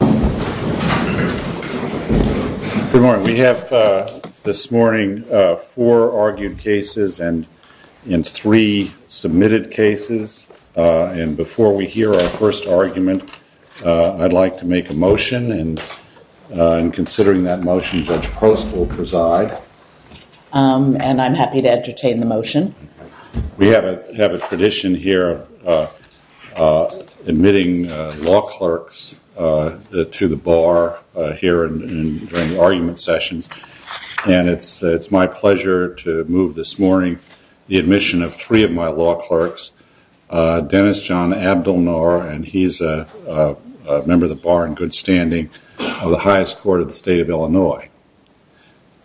Good morning. We have this morning four argued cases and three submitted cases. And before we hear our first argument, I'd like to make a motion and considering that motion, Judge Post will preside. And I'm happy to entertain the motion. We have a tradition here of admitting law clerks to the bar here during argument sessions. And it's my pleasure to move this morning the admission of three of my law clerks. Dennis John Abdelnour, and he's a member of the bar in good standing of the highest court of the state of Illinois.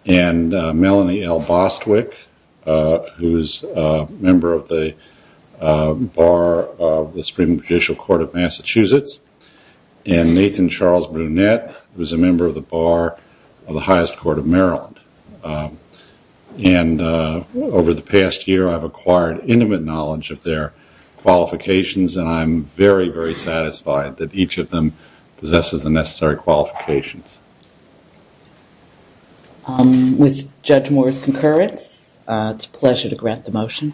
And Melanie L. Bostwick, who's a member of the bar of the Supreme Judicial Court of Massachusetts. And Nathan Charles Brunette, who's a member of the bar of the highest court of Maryland. And over the past year, I've acquired intimate knowledge of their qualifications and I'm very, very satisfied that each of them possesses the necessary qualifications. With Judge Moore's concurrence, it's a pleasure to grant the motion.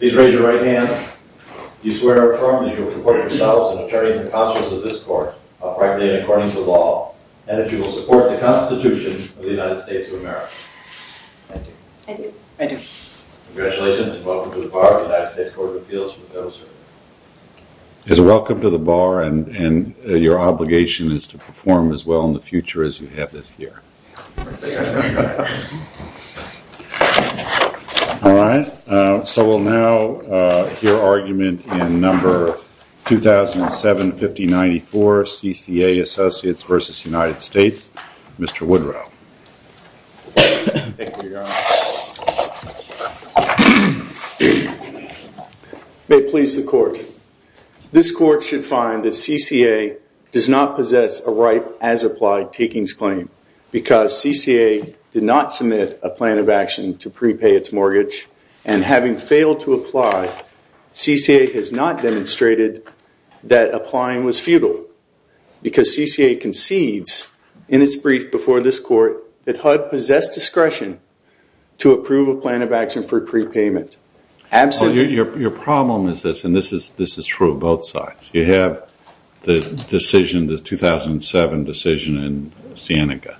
Please raise your right hand. Do you swear or affirm that you will support yourselves and attorneys and counsels of this court, uprightly and according to law, and that you will support the Constitution of the United States of America? I do. I do. I do. Congratulations and welcome to the bar of the United States Court of Appeals. Welcome to the bar and your obligation is to perform as well in the future as you have this year. All right. So we'll now hear argument in number 2007-5094, CCA Associates versus United States. Mr. Woodrow. May it please the court. This court should find that CCA does not possess a ripe as applied takings claim because CCA did not submit a plan of action to prepay its mortgage. And having failed to apply, CCA has not demonstrated that applying was futile because CCA concedes in its brief before this court that HUD possessed discretion to approve a plan of action for prepayment. Your problem is this and this is true of both sides. You have the decision, the 2007 decision in Sienega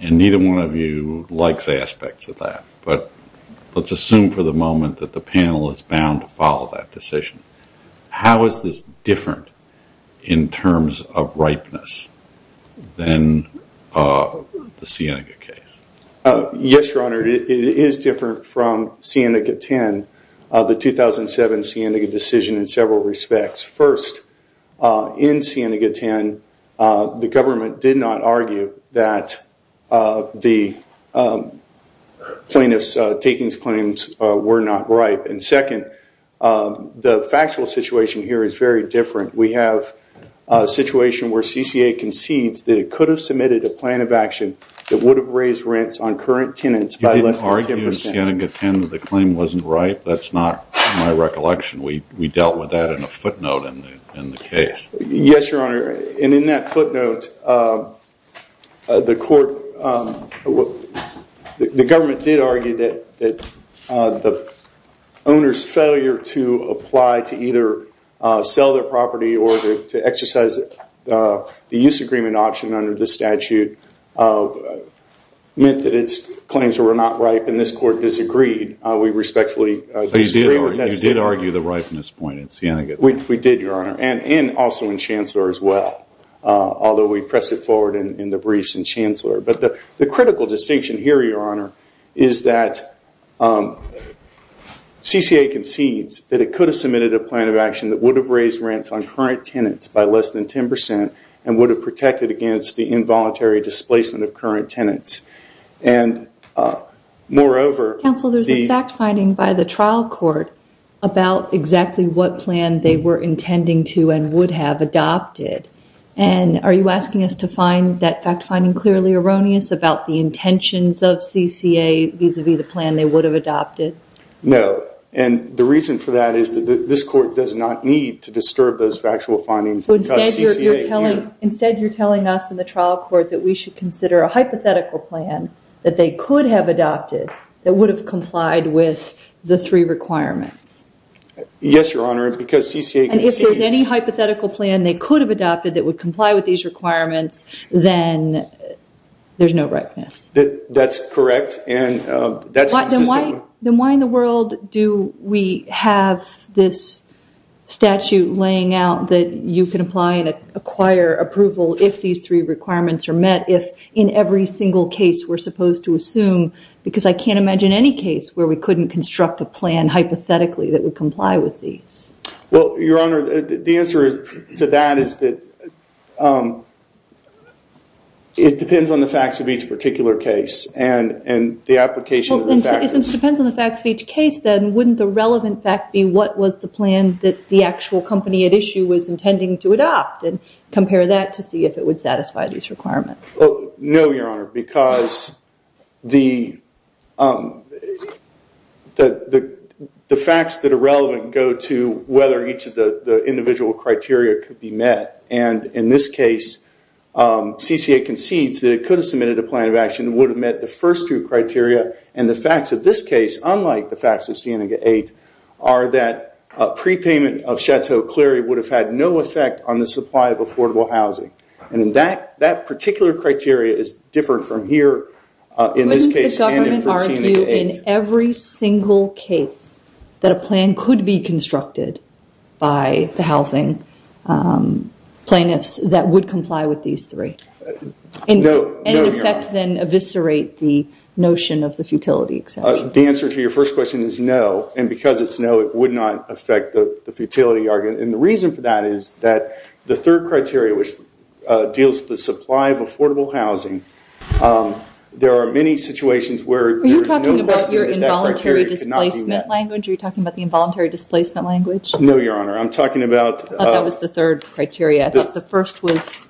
and neither one of you likes aspects of that. But let's assume for the moment that the panel is bound to follow that decision. How is this different in terms of ripeness than the Sienega case? Yes, Your Honor. It is different from Sienega 10, the 2007 Sienega decision in several respects. First, in Sienega 10, the government did not argue that the plaintiff's takings claims were not ripe. And second, the factual situation here is very different. We have a situation where CCA concedes that it could have submitted a plan of action that would have raised rents on current tenants by less than 10%. You didn't argue in Sienega 10 that the claim wasn't ripe? That's not my recollection. We dealt with that in a footnote in the case. Yes, Your Honor. And in that footnote, the government did argue that the owner's failure to apply to either sell their property or to exercise the use agreement option under the statute meant that its claims were not ripe and this court disagreed. So you did argue the ripeness point in Sienega 10? We did, Your Honor. And also in Chancellor as well. Although we pressed it forward in the briefs in Chancellor. But the critical distinction here, Your Honor, is that CCA concedes that it could have submitted a plan of action that would have raised rents on current tenants by less than 10% and would have protected against the involuntary displacement of current tenants. And moreover... Counsel, there's a fact finding by the trial court about exactly what plan they were intending to and would have adopted. And are you asking us to find that fact finding clearly erroneous about the intentions of CCA vis-a-vis the plan they would have adopted? No. And the reason for that is that this court does not need to disturb those factual findings. So instead you're telling us in the trial court that we should consider a hypothetical plan that they could have adopted that would have complied with the three requirements? Yes, Your Honor, because CCA concedes... And if there's any hypothetical plan they could have adopted that would comply with these requirements, then there's no ripeness? That's correct. And that's consistent... Then why in the world do we have this statute laying out that you can apply and acquire approval if these three requirements are met, if in every single case we're supposed to assume? Because I can't imagine any case where we couldn't construct a plan hypothetically that would comply with these. Well, Your Honor, the answer to that is that it depends on the facts of each particular case and the application... Since it depends on the facts of each case, then wouldn't the relevant fact be what was the plan that the actual company at issue was intending to adopt and compare that to see if it would satisfy these requirements? No, Your Honor, because the facts that are relevant go to whether each of the individual criteria could be met. And in this case, CCA concedes that it could have submitted a plan of action that would have met the first two criteria. And the facts of this case, unlike the facts of Seneca 8, are that prepayment of Chateau-Cleary would have had no effect on the supply of affordable housing. And that particular criteria is different from here in this case and in Seneca 8. So in every single case that a plan could be constructed by the housing plaintiffs that would comply with these three? No, Your Honor. And in effect then eviscerate the notion of the futility exemption? The answer to your first question is no, and because it's no, it would not affect the futility argument. And the reason for that is that the third criteria, which deals with the supply of affordable housing, there are many situations where... Are you talking about your involuntary displacement language? Are you talking about the involuntary displacement language? No, Your Honor, I'm talking about... I thought that was the third criteria. I thought the first was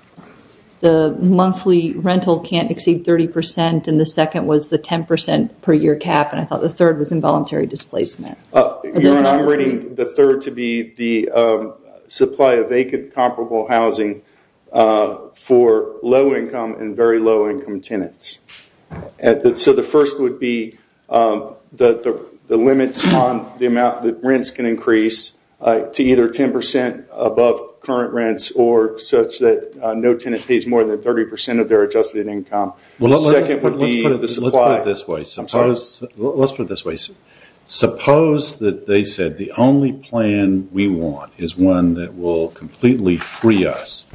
the monthly rental can't exceed 30% and the second was the 10% per year cap, and I thought the third was involuntary displacement. Your Honor, I'm rating the third to be the supply of vacant comparable housing for low-income and very low-income tenants. So the first would be the limits on the amount that rents can increase to either 10% above current rents or such that no tenant pays more than 30% of their adjusted income. Well, let's put it this way. I'm sorry? Let's put it this way. Suppose that they said the only plan we want is one that will completely free us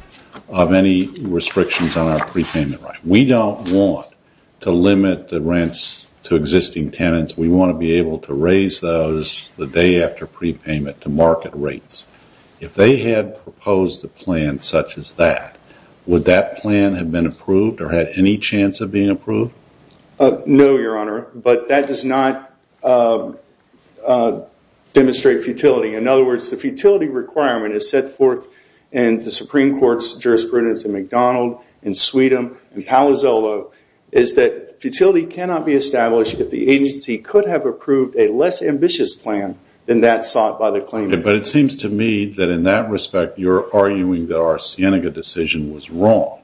of any restrictions on our prepayment. We don't want to limit the rents to existing tenants. We want to be able to raise those the day after prepayment to market rates. If they had proposed a plan such as that, would that plan have been approved or had any chance of being approved? No, Your Honor, but that does not demonstrate futility. In other words, the futility requirement is set forth in the Supreme Court's jurisprudence in McDonald, in Sweetum, in Palazzolo, is that futility cannot be established if the agency could have approved a less ambitious plan than that sought by the claimant. But it seems to me that in that respect, you're arguing that our Cienega decision was wrong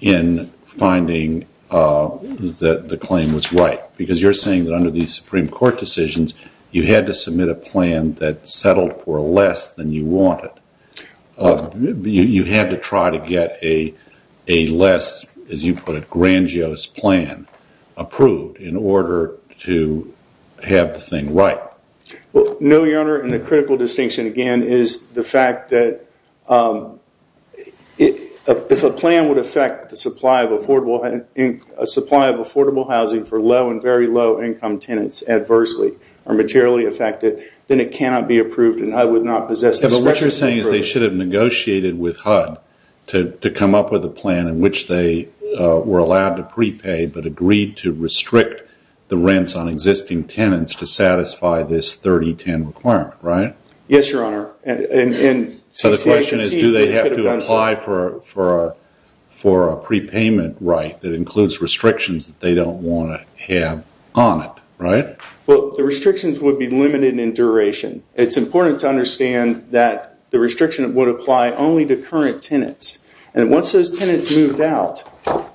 in finding that the claim was right because you're saying that under these Supreme Court decisions, you had to submit a plan that settled for less than you wanted. You had to try to get a less, as you put it, grandiose plan approved in order to have the thing right. No, Your Honor, and the critical distinction again is the fact that if a plan would affect the supply of affordable housing for low and very low income tenants adversely or materially affect it, then it cannot be approved and HUD would not possess the discretion to approve it. What you're saying is they should have negotiated with HUD to come up with a plan in which they were allowed to prepay but agreed to restrict the rents on existing tenants to satisfy this 30-10 requirement, right? Yes, Your Honor. So the question is do they have to apply for a prepayment right that includes restrictions that they don't want to have on it, right? Well, the restrictions would be limited in duration. It's important to understand that the restriction would apply only to current tenants. And once those tenants moved out,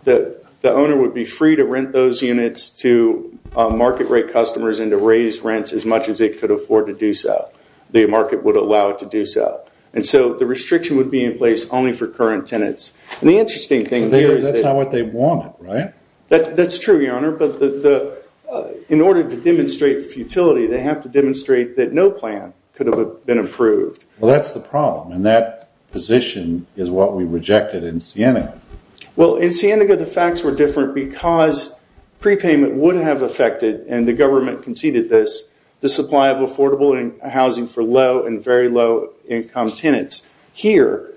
the owner would be free to rent those units to market rate customers and to raise rents as much as they could afford to do so. The market would allow it to do so. And so the restriction would be in place only for current tenants. And the interesting thing there is that... That's not what they want, right? That's true, Your Honor, but in order to demonstrate futility, they have to demonstrate that no plan could have been approved. Well, that's the problem, and that position is what we rejected in Sienega. Well, in Sienega, the facts were different because prepayment would have affected, and the government conceded this, the supply of affordable housing for low and very low income tenants. Here,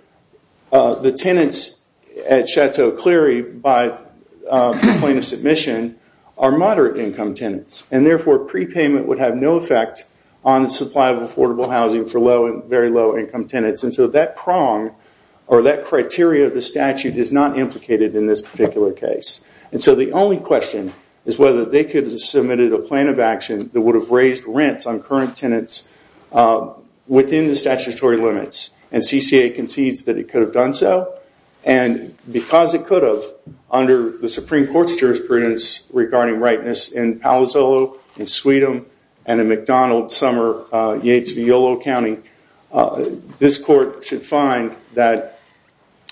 the tenants at Chateau Cleary, by the point of submission, are moderate income tenants. And therefore, prepayment would have no effect on the supply of affordable housing for low and very low income tenants. And so that prong or that criteria of the statute is not implicated in this particular case. And so the only question is whether they could have submitted a plan of action that would have raised rents on current tenants within the statutory limits. And CCA concedes that it could have done so. And because it could have, under the Supreme Court's jurisprudence regarding rightness in Palo Solo, in Sweetum, and in McDonald, Summer, Yates, Violo County, this court should find that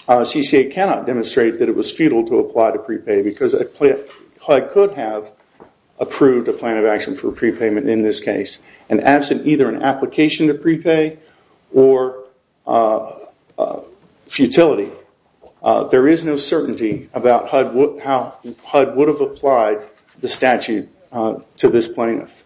CCA cannot demonstrate that it was futile to apply to prepay because a plan could have approved a plan of action for prepayment in this case. And absent either an application to prepay or futility, there is no certainty about how HUD would have applied the statute to this plaintiff.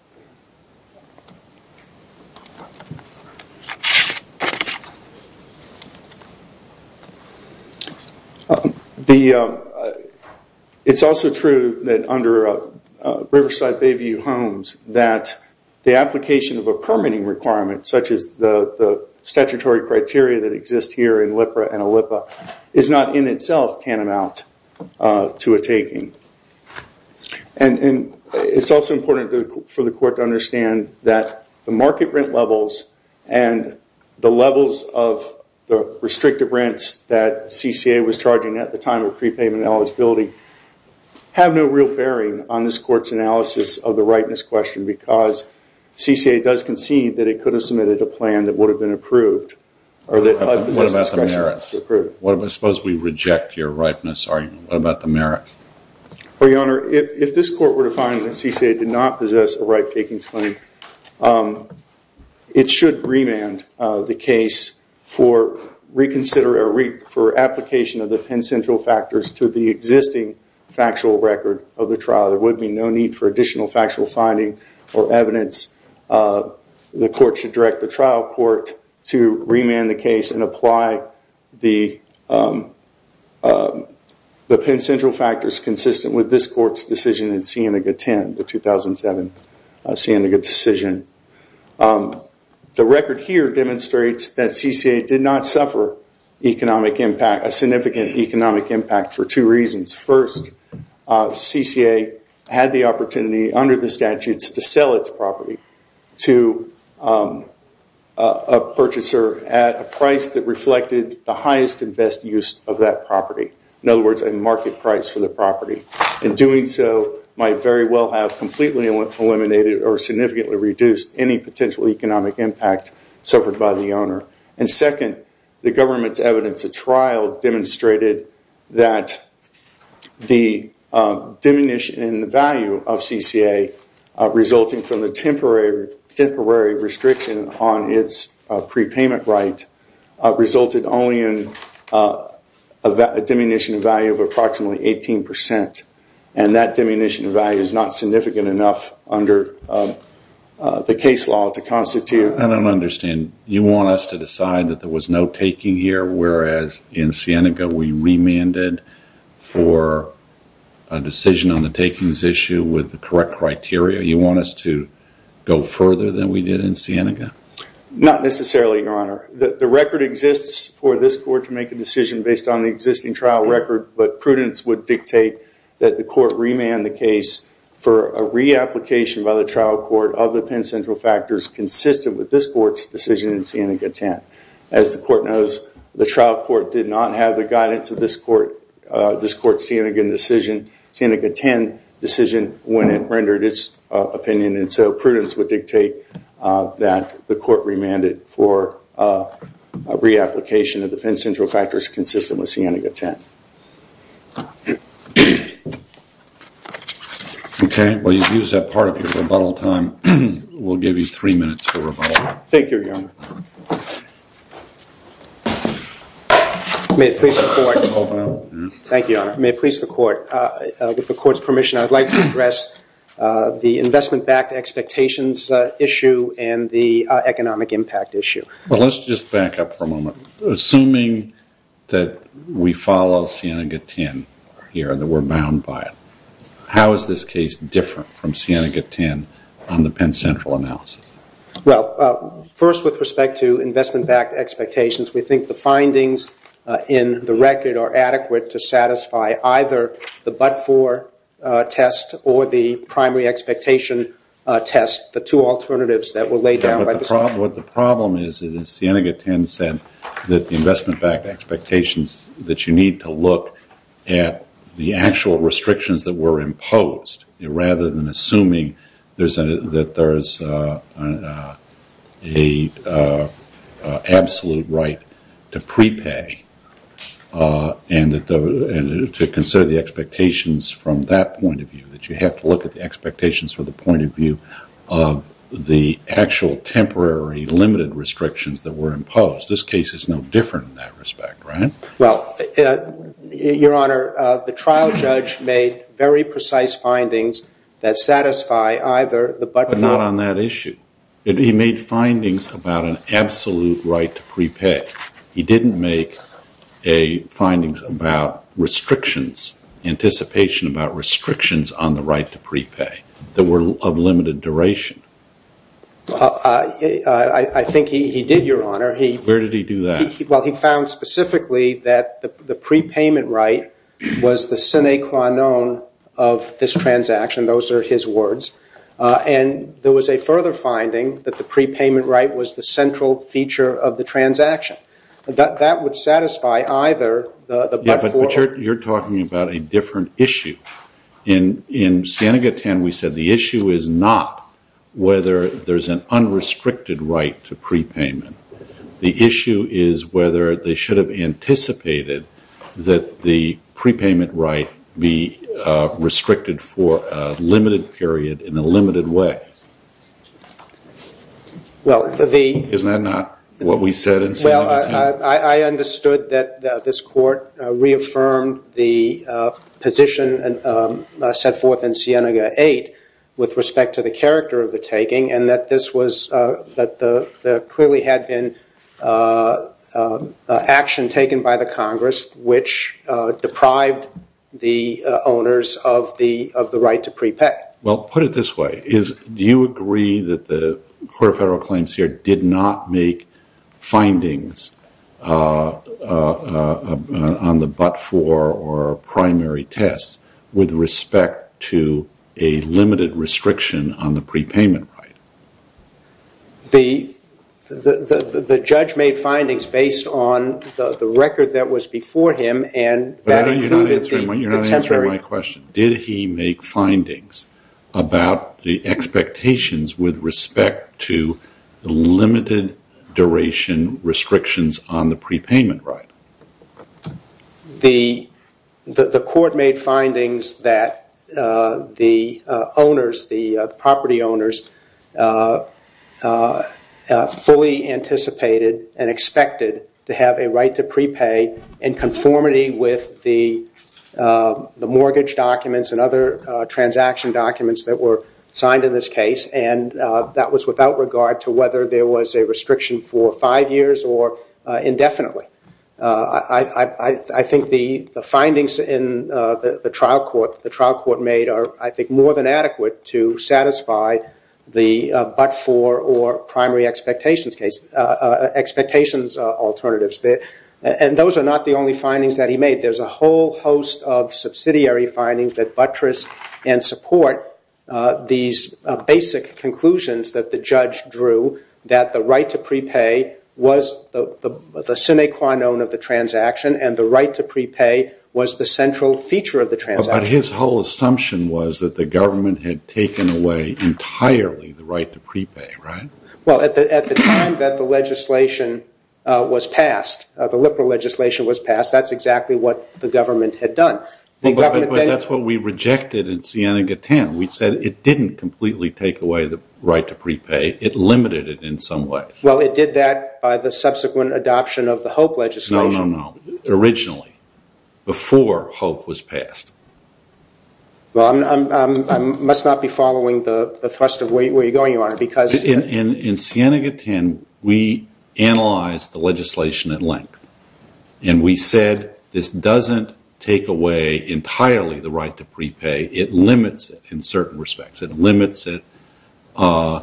It's also true that under Riverside Bayview Homes that the application of a permitting requirement, such as the statutory criteria that exist here in LIPRA and OLIPA, is not in itself tantamount to a taking. And it's also important for the court to understand that the market rent levels and the levels of the restrictive rents that CCA was charging at the time of prepayment eligibility have no real bearing on this court's analysis of the rightness question because CCA does concede that it could have submitted a plan that would have been approved. What about the merits? Suppose we reject your rightness argument. What about the merits? Your Honor, if this court were to find that CCA did not possess a right-taking claim, it should remand the case for application of the Penn Central factors to the existing factual record of the trial. There would be no need for additional factual finding or evidence. The court should direct the trial court to remand the case and apply the Penn Central factors consistent with this court's decision in Sienega 10, the 2007 Sienega decision. The record here demonstrates that CCA did not suffer economic impact, a significant economic impact, for two reasons. First, CCA had the opportunity under the statutes to sell its property to a purchaser at a price that reflected the highest and best use of that property. In other words, a market price for the property. And doing so might very well have completely eliminated or significantly reduced any potential economic impact suffered by the owner. And second, the government's evidence at trial demonstrated that the diminishing value of CCA resulting from the temporary restriction on its prepayment right resulted only in a diminishing value of approximately 18%. And that diminishing value is not significant enough under the case law to constitute... I don't understand. You want us to decide that there was no taking here, whereas in Sienega we remanded for a decision on the takings issue with the correct criteria. You want us to go further than we did in Sienega? Not necessarily, Your Honor. The record exists for this court to make a decision based on the existing trial record, but prudence would dictate that the court remand the case for a reapplication by the trial court of the Penn Central factors consistent with this court's decision in Sienega 10. As the court knows, the trial court did not have the guidance of this court's Sienega 10 decision when it rendered its opinion. And so prudence would dictate that the court remanded for a reapplication of the Penn Central factors consistent with Sienega 10. Okay. Well, you've used that part of your rebuttal time. We'll give you three minutes for rebuttal. Thank you, Your Honor. May it please the court. Thank you, Your Honor. May it please the court. With the court's permission, I would like to address the investment-backed expectations issue and the economic impact issue. Well, let's just back up for a moment. Assuming that we follow Sienega 10 here, that we're bound by it, how is this case different from Sienega 10 on the Penn Central analysis? Well, first, with respect to investment-backed expectations, we think the findings in the record are adequate to satisfy either the but-for test or the primary expectation test, the two alternatives that were laid down by this court. What the problem is, is that Sienega 10 said that the investment-backed expectations, that you need to look at the actual restrictions that were imposed rather than assuming that there is an absolute right to prepay and to consider the expectations from that point of view, that you have to look at the expectations from the point of view of the actual temporary limited restrictions that were imposed. This case is no different in that respect, right? Well, Your Honor, the trial judge made very precise findings that satisfy either the but-for. But not on that issue. He made findings about an absolute right to prepay. He didn't make findings about restrictions, anticipation about restrictions on the right to prepay that were of limited duration. I think he did, Your Honor. Where did he do that? Well, he found specifically that the prepayment right was the sine qua non of this transaction. Those are his words. And there was a further finding that the prepayment right was the central feature of the transaction. That would satisfy either the but-for. Yeah, but you're talking about a different issue. In Sienega 10, we said the issue is not whether there's an unrestricted right to prepayment. The issue is whether they should have anticipated that the prepayment right be restricted for a limited period in a limited way. Isn't that not what we said in Sienega 10? I understood that this court reaffirmed the position set forth in Sienega 8 with respect to the character of the taking, and that there clearly had been action taken by the Congress which deprived the owners of the right to prepay. Well, put it this way. Do you agree that the Court of Federal Claims here did not make findings on the but-for or primary test with respect to a limited restriction on the prepayment right? The judge made findings based on the record that was before him, and that included the temporary. So my question, did he make findings about the expectations with respect to the limited duration restrictions on the prepayment right? The court made findings that the property owners fully anticipated and expected to have a right to prepay in conformity with the mortgage documents and other transaction documents that were signed in this case, and that was without regard to whether there was a restriction for five years or indefinitely. I think the findings in the trial court made are, I think, more than adequate to satisfy the but-for or primary expectations alternatives. And those are not the only findings that he made. There's a whole host of subsidiary findings that buttress and support these basic conclusions that the judge drew, that the right to prepay was the sine qua non of the transaction and the right to prepay was the central feature of the transaction. But his whole assumption was that the government had taken away entirely the right to prepay, right? Well, at the time that the legislation was passed, the liberal legislation was passed, that's exactly what the government had done. But that's what we rejected in Siena-Gatan. We said it didn't completely take away the right to prepay. It limited it in some way. Well, it did that by the subsequent adoption of the HOPE legislation. No, no, no. Originally, before HOPE was passed. Well, I must not be following the thrust of where you're going, Your Honor, because In Siena-Gatan, we analyzed the legislation at length. And we said this doesn't take away entirely the right to prepay. It limits it in certain respects. It limits it. Do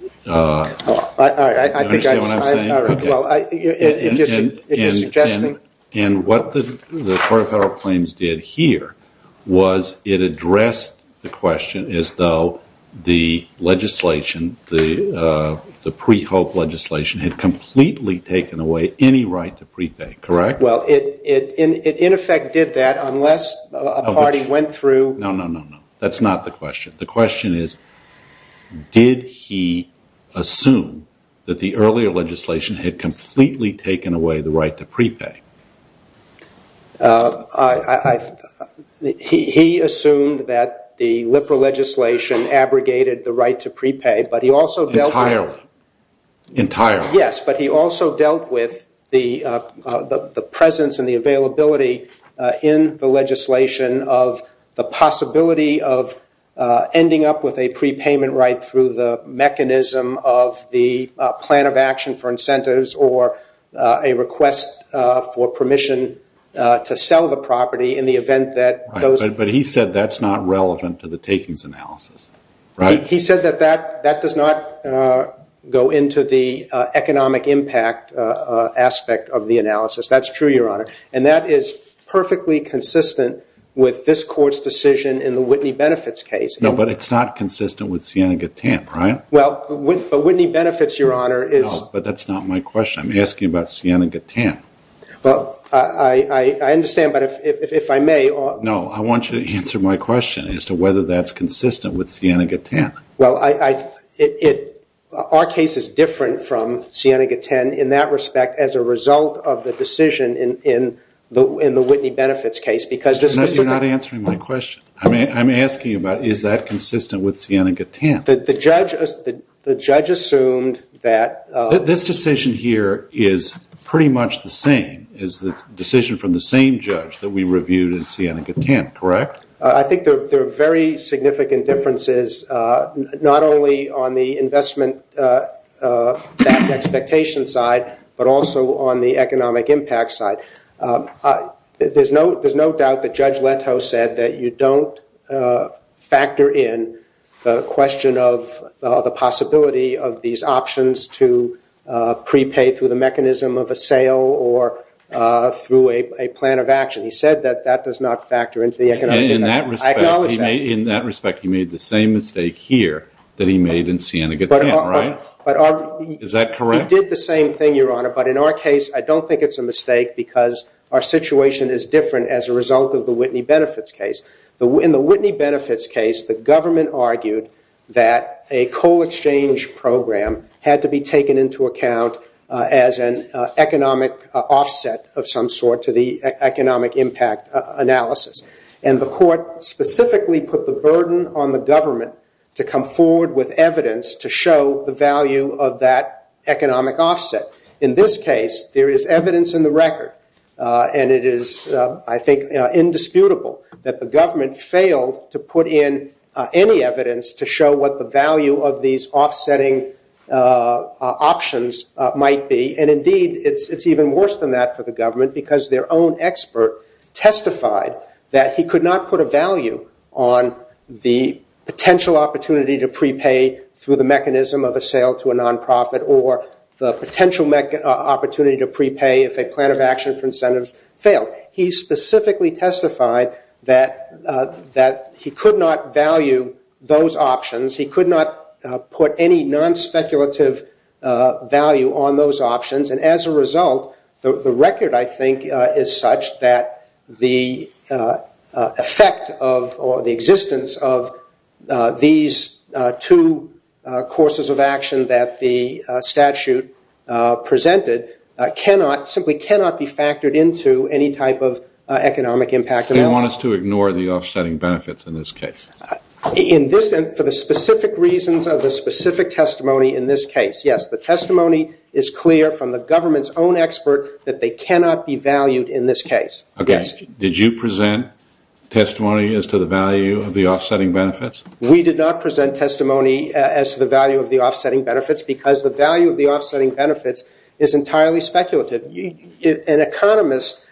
you understand what I'm saying? Well, if you're suggesting And what the Court of Federal Claims did here was it addressed the question as though the legislation, the pre-HOPE legislation, had completely taken away any right to prepay, correct? Well, it in effect did that unless a party went through No, no, no, no. That's not the question. The question is did he assume that the earlier legislation had completely taken away the right to prepay? He assumed that the LIPRA legislation abrogated the right to prepay, but he also dealt with Entirely. Ending up with a prepayment right through the mechanism of the plan of action for incentives or a request for permission to sell the property in the event that those But he said that's not relevant to the takings analysis, right? He said that that does not go into the economic impact aspect of the analysis. That's true, Your Honor. And that is perfectly consistent with this court's decision in the Whitney Benefits case. No, but it's not consistent with Siena-Gatan, right? Well, but Whitney Benefits, Your Honor, is No, but that's not my question. I'm asking about Siena-Gatan. Well, I understand, but if I may No, I want you to answer my question as to whether that's consistent with Siena-Gatan. Well, our case is different from Siena-Gatan in that respect as a result of the decision in the Whitney Benefits case because No, you're not answering my question. I'm asking about is that consistent with Siena-Gatan. The judge assumed that This decision here is pretty much the same as the decision from the same judge that we reviewed in Siena-Gatan, correct? I think there are very significant differences, not only on the investment expectation side, but also on the economic impact side. There's no doubt that Judge Leto said that you don't factor in the question of the possibility of these options to prepay through the mechanism of a sale or through a plan of action. He said that that does not factor into the economic impact. I acknowledge that. In that respect, he made the same mistake here that he made in Siena-Gatan, right? Is that correct? We did the same thing, Your Honor, but in our case, I don't think it's a mistake because our situation is different as a result of the Whitney Benefits case. In the Whitney Benefits case, the government argued that a coal exchange program had to be taken into account as an economic offset of some sort to the economic impact analysis. And the court specifically put the burden on the government to come forward with evidence to show the value of that economic offset. In this case, there is evidence in the record, and it is, I think, indisputable that the government failed to put in any evidence to show what the value of these offsetting options might be. And indeed, it's even worse than that for the government because their own expert testified that he could not put a value on the potential opportunity to prepay through the mechanism of a sale to a nonprofit or the potential opportunity to prepay if a plan of action for incentives failed. He specifically testified that he could not value those options. He could not put any non-speculative value on those options. And as a result, the record, I think, is such that the effect of or the existence of these two courses of action that the statute presented simply cannot be factored into any type of economic impact analysis. They want us to ignore the offsetting benefits in this case. For the specific reasons of the specific testimony in this case, yes, the testimony is clear from the government's own expert that they cannot be valued in this case. Did you present testimony as to the value of the offsetting benefits? We did not present testimony as to the value of the offsetting benefits because the value of the offsetting benefits is entirely speculative. An economist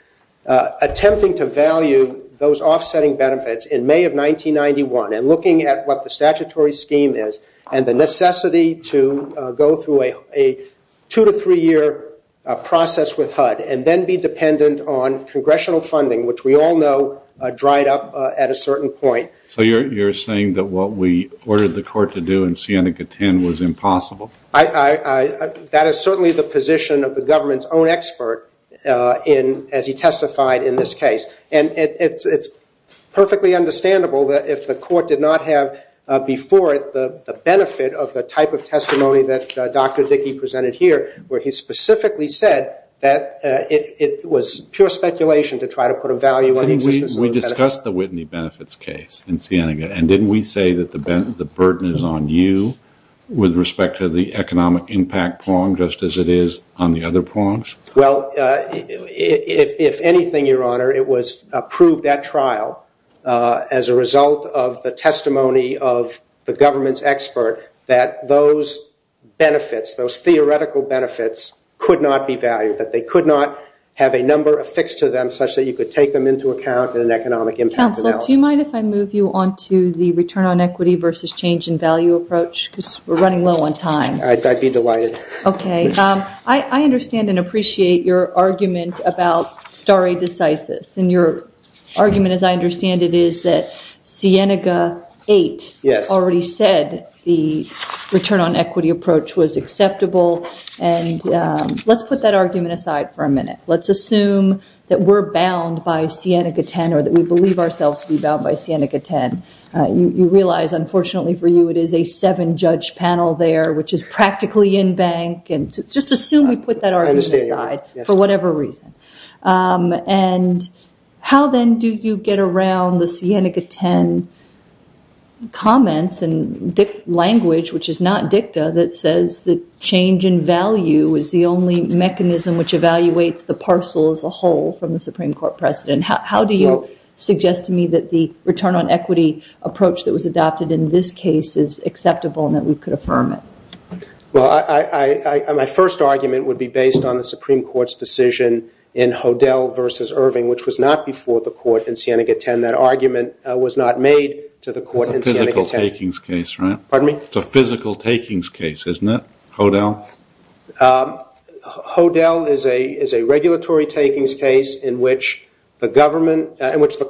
attempting to value those offsetting benefits in May of 1991 and looking at what the statutory scheme is and the necessity to go through a two- to three-year process with HUD and then be dependent on congressional funding, which we all know dried up at a certain point. So you're saying that what we ordered the court to do in Siena-Katen was impossible? That is certainly the position of the government's own expert as he testified in this case. And it's perfectly understandable that if the court did not have before it the benefit of the type of testimony that Dr. Dickey presented here, where he specifically said that it was pure speculation to try to put a value on the existence of the benefits. And didn't we say that the burden is on you with respect to the economic impact prong, just as it is on the other prongs? Well, if anything, Your Honor, it was approved at trial as a result of the testimony of the government's expert that those benefits, those theoretical benefits, could not be valued, that they could not have a number affixed to them such that you could take them into account in an economic impact analysis. Counsel, do you mind if I move you on to the return on equity versus change in value approach? Because we're running low on time. I'd be delighted. Okay. I understand and appreciate your argument about stare decisis. And your argument, as I understand it, is that Siena-Katen already said the return on equity approach was acceptable. And let's put that argument aside for a minute. Let's assume that we're bound by Siena-Katen or that we believe ourselves to be bound by Siena-Katen. You realize, unfortunately for you, it is a seven-judge panel there, which is practically in bank. And just assume we put that argument aside for whatever reason. And how, then, do you get around the Siena-Katen comments and language, which is not dicta, that says that change in value is the only mechanism which evaluates the parcel as a whole from the Supreme Court precedent? How do you suggest to me that the return on equity approach that was adopted in this case is acceptable and that we could affirm it? Well, my first argument would be based on the Supreme Court's decision in Hodel versus Irving, which was not before the court in Siena-Katen. That argument was not made to the court in Siena-Katen. It's a physical takings case, right? Pardon me? It's a physical takings case, isn't it, Hodel? Hodel is a regulatory takings case in which the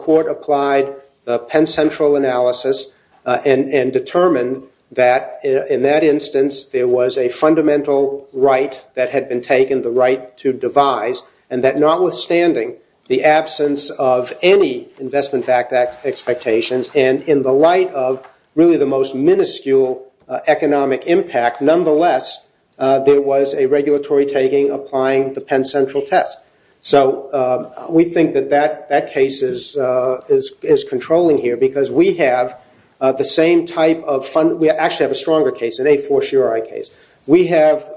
court applied the Penn Central analysis and determined that in that instance there was a fundamental right that had been taken, the right to devise, and that notwithstanding the absence of any investment expectations and in the light of really the most minuscule economic impact, nonetheless there was a regulatory taking applying the Penn Central test. So we think that that case is controlling here because we have the same type of fund—we actually have a stronger case, an A4 Shuri case. We have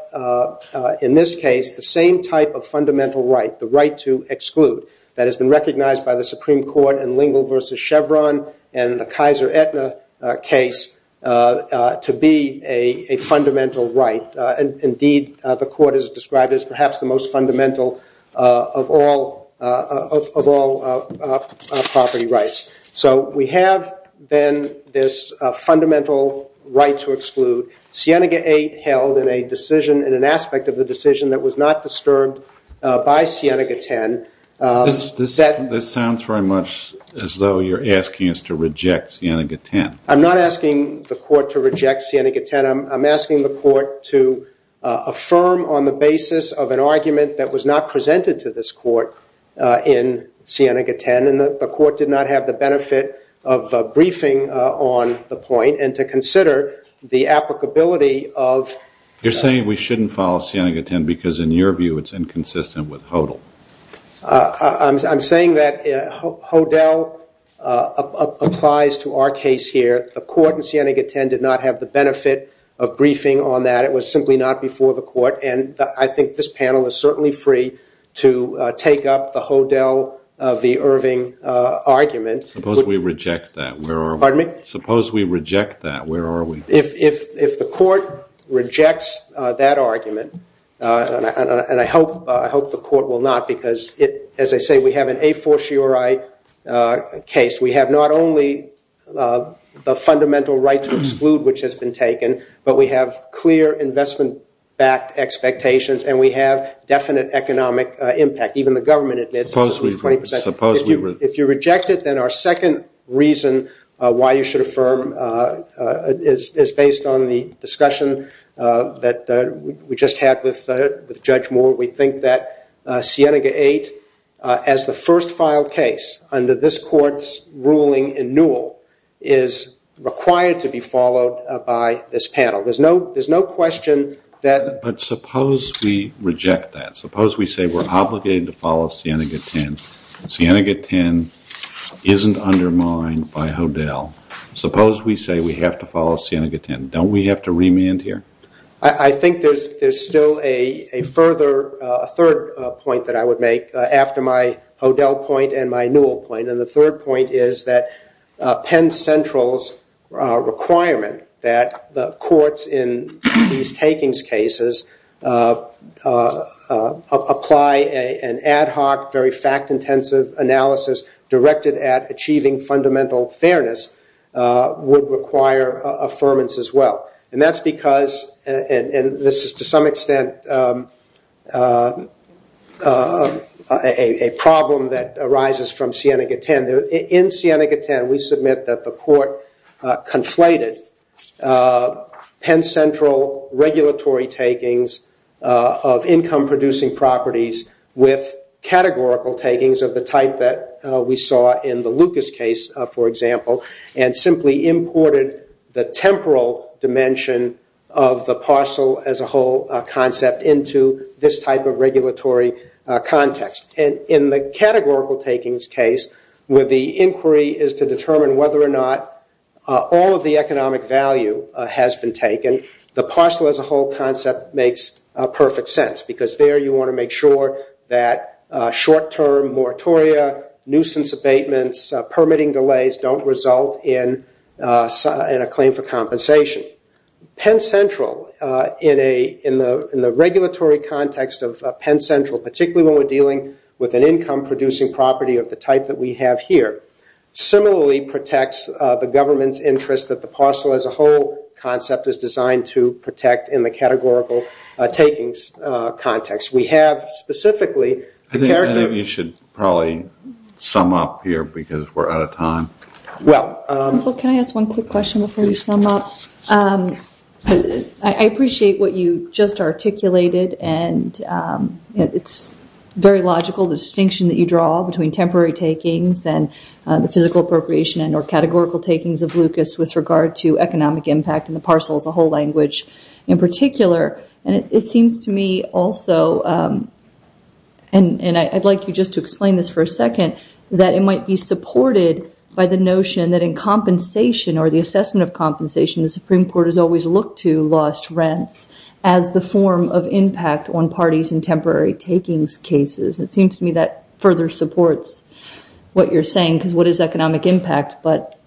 in this case the same type of fundamental right, the right to exclude, that has been recognized by the Supreme Court in Lingle versus Chevron and the Kaiser Aetna case to be a fundamental right. Indeed, the court has described it as perhaps the most fundamental of all property rights. So we have then this fundamental right to exclude. Sienega 8 held in an aspect of the decision that was not disturbed by Sienega 10. This sounds very much as though you're asking us to reject Sienega 10. I'm not asking the court to reject Sienega 10. I'm asking the court to affirm on the basis of an argument that was not presented to this court in Sienega 10, and the court did not have the benefit of briefing on the point, and to consider the applicability of— You're saying we shouldn't follow Sienega 10 because in your view it's inconsistent with HODL. I'm saying that HODL applies to our case here. The court in Sienega 10 did not have the benefit of briefing on that. That was simply not before the court, and I think this panel is certainly free to take up the HODL of the Irving argument. Suppose we reject that. Pardon me? Suppose we reject that. Where are we? If the court rejects that argument, and I hope the court will not because, as I say, we have an a fortiori case. We have not only the fundamental right to exclude, which has been taken, but we have clear investment-backed expectations, and we have definite economic impact. Even the government admits it. Suppose we— If you reject it, then our second reason why you should affirm is based on the discussion that we just had with Judge Moore. We think that Sienega 8, as the first filed case under this court's ruling in Newell, is required to be followed by this panel. There's no question that— But suppose we reject that. Suppose we say we're obligated to follow Sienega 10. Sienega 10 isn't undermined by HODL. Suppose we say we have to follow Sienega 10. Don't we have to remand here? I think there's still a third point that I would make after my HODL point and my Newell point, and the third point is that Penn Central's requirement that the courts in these takings cases apply an ad hoc, very fact-intensive analysis directed at achieving fundamental fairness would require affirmance as well. And that's because—and this is to some extent a problem that arises from Sienega 10. In Sienega 10, we submit that the court conflated Penn Central regulatory takings of income-producing properties with categorical takings of the type that we saw in the Lucas case, for example, and simply imported the temporal dimension of the parcel-as-a-whole concept into this type of regulatory context. And in the categorical takings case, where the inquiry is to determine whether or not all of the economic value has been taken, the parcel-as-a-whole concept makes perfect sense because there you want to make sure that short-term moratoria, nuisance abatements, permitting delays don't result in a claim for compensation. Penn Central, in the regulatory context of Penn Central, particularly when we're dealing with an income-producing property of the type that we have here, similarly protects the government's interest that the parcel-as-a-whole concept is designed to protect in the categorical takings context. I think you should probably sum up here because we're out of time. Well, can I ask one quick question before you sum up? I appreciate what you just articulated, and it's very logical, the distinction that you draw between temporary takings and the physical appropriation and or categorical takings of Lucas with regard to economic impact and the parcel-as-a-whole language in particular. It seems to me also, and I'd like you just to explain this for a second, that it might be supported by the notion that in compensation or the assessment of compensation, the Supreme Court has always looked to lost rents as the form of impact on parties in temporary takings cases. It seems to me that further supports what you're saying because what is economic impact, but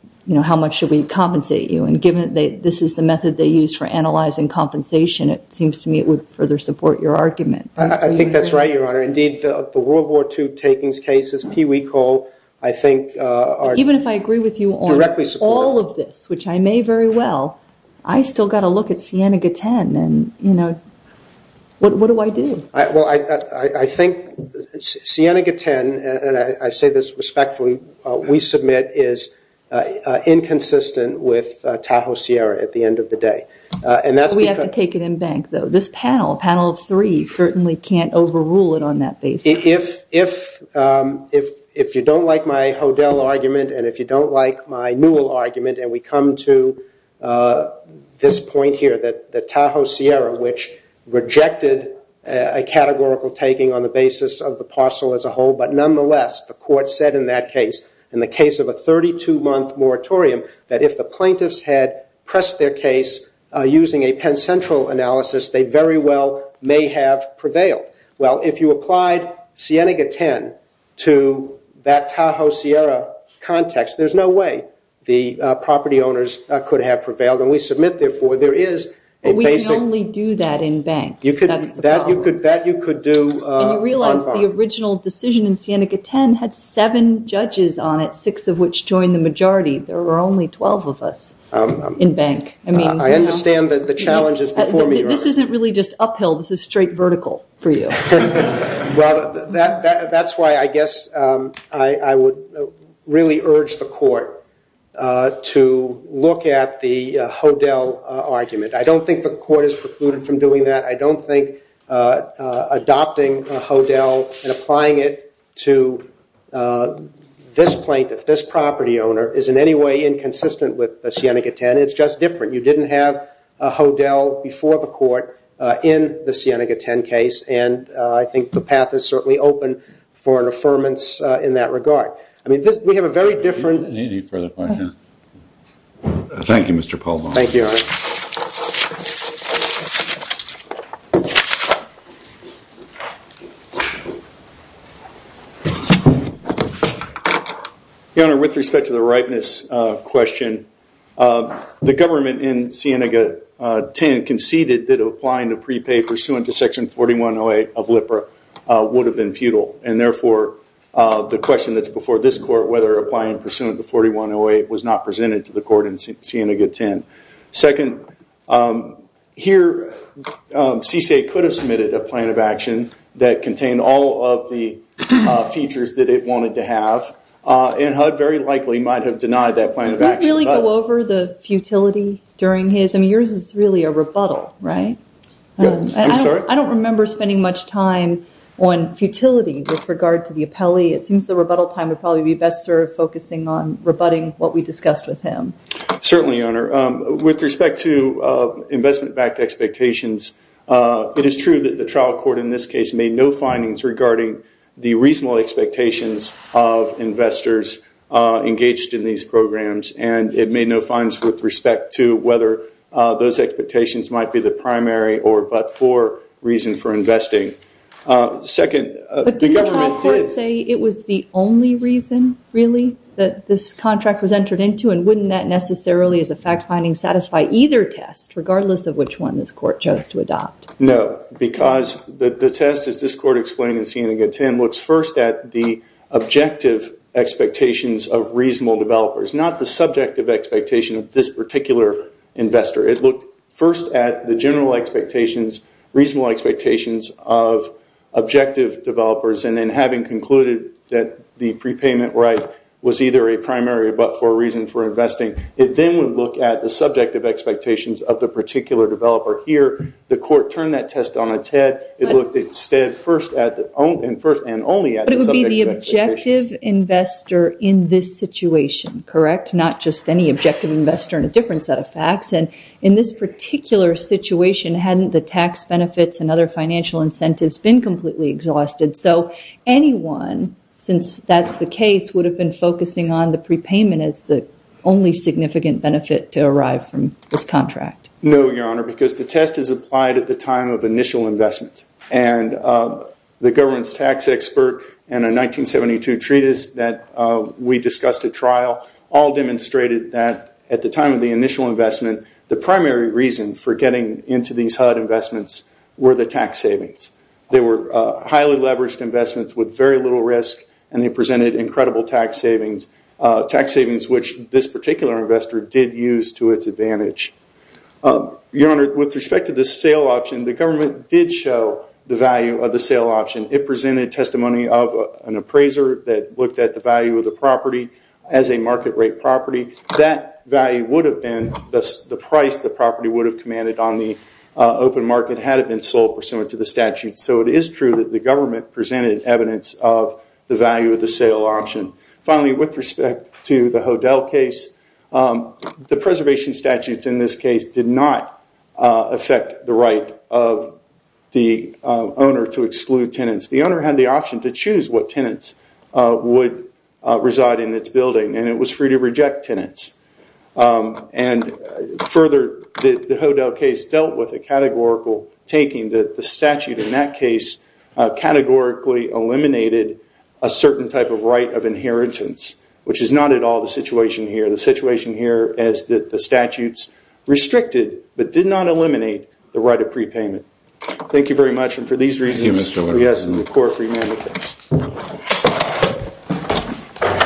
how much should we compensate you? This is the method they use for analyzing compensation. It seems to me it would further support your argument. I think that's right, Your Honor. Indeed, the World War II takings cases, Pee Wee Cole, I think are directly supported. Even if I agree with you on all of this, which I may very well, I still got to look at Siena-Gaten, and what do I do? I think Siena-Gaten, and I say this respectfully, we submit is inconsistent with Tahoe-Sierra at the end of the day. We have to take it in bank, though. This panel, panel of three, certainly can't overrule it on that basis. If you don't like my Hodel argument and if you don't like my Newell argument, and we come to this point here that Tahoe-Sierra, which rejected a categorical taking on the basis of the parcel as a whole, but nonetheless the court said in that case, in the case of a 32-month moratorium, that if the plaintiffs had pressed their case using a Penn Central analysis, they very well may have prevailed. Well, if you applied Siena-Gaten to that Tahoe-Sierra context, there's no way. The property owners could have prevailed. And we submit, therefore, there is a basic- But we can only do that in bank. That's the problem. That you could do- And you realize the original decision in Siena-Gaten had seven judges on it, six of which joined the majority. There were only 12 of us in bank. I understand that the challenge is before me. This isn't really just uphill. This is straight vertical for you. Well, that's why I guess I would really urge the court to look at the Hodel argument. I don't think the court is precluded from doing that. I don't think adopting Hodel and applying it to this plaintiff, this property owner, is in any way inconsistent with Siena-Gaten. It's just different. You didn't have a Hodel before the court in the Siena-Gaten case. And I think the path is certainly open for an affirmance in that regard. I mean, we have a very different- Any further questions? Thank you, Mr. Palma. Thank you, Your Honor. Your Honor, with respect to the ripeness question, the government in Siena-Gaten conceded that applying to prepay pursuant to Section 4108 of LIPRA would have been futile. And therefore, the question that's before this court, whether applying pursuant to 4108, was not presented to the court in Siena-Gaten. Second, here, CCA could have submitted a plan of action that contained all of the features that it wanted to have. And HUD very likely might have denied that plan of action. Did you really go over the futility during his? I mean, yours is really a rebuttal, right? I'm sorry? I don't remember spending much time on futility with regard to the appellee. It seems the rebuttal time would probably be best served focusing on rebutting what we discussed with him. Certainly, Your Honor. With respect to investment-backed expectations, it is true that the trial court, in this case, made no findings regarding the reasonable expectations of investors engaged in these programs. And it made no findings with respect to whether those expectations might be the primary or but-for reason for investing. But didn't the trial court say it was the only reason, really, that this contract was entered into? And wouldn't that necessarily, as a fact-finding, satisfy either test, regardless of which one this court chose to adopt? No, because the test, as this court explained in seeing it again, Tim, looks first at the objective expectations of reasonable developers, not the subjective expectation of this particular investor. It looked first at the general expectations, reasonable expectations of objective developers, and then having concluded that the prepayment right was either a primary or but-for reason for investing, it then would look at the subjective expectations of the particular developer. Here, the court turned that test on its head. It looked instead first and only at the subjective expectations. But it would be the objective investor in this situation, correct, not just any objective investor in a different set of facts. And in this particular situation, hadn't the tax benefits and other financial incentives been completely exhausted? So anyone, since that's the case, would have been focusing on the prepayment as the only significant benefit to arrive from this contract. No, Your Honor, because the test is applied at the time of initial investment, and the government's tax expert and a 1972 treatise that we discussed at trial all demonstrated that at the time of the initial investment, the primary reason for getting into these HUD investments were the tax savings. They were highly leveraged investments with very little risk, and they presented incredible tax savings, tax savings which this particular investor did use to its advantage. Your Honor, with respect to the sale option, the government did show the value of the sale option. It presented testimony of an appraiser that looked at the value of the property as a market rate property. That value would have been the price the property would have commanded on the open market had it been sold pursuant to the statute. So it is true that the government presented evidence of the value of the sale option. Finally, with respect to the Hodel case, the preservation statutes in this case did not affect the right of the owner to exclude tenants. The owner had the option to choose what tenants would reside in its building, and it was free to reject tenants. And further, the Hodel case dealt with a categorical taking that the statute in that case categorically eliminated a certain type of right of inheritance, which is not at all the situation here. The situation here is that the statutes restricted but did not eliminate the right of prepayment. Thank you very much, and for these reasons, we ask that the Court remand the case.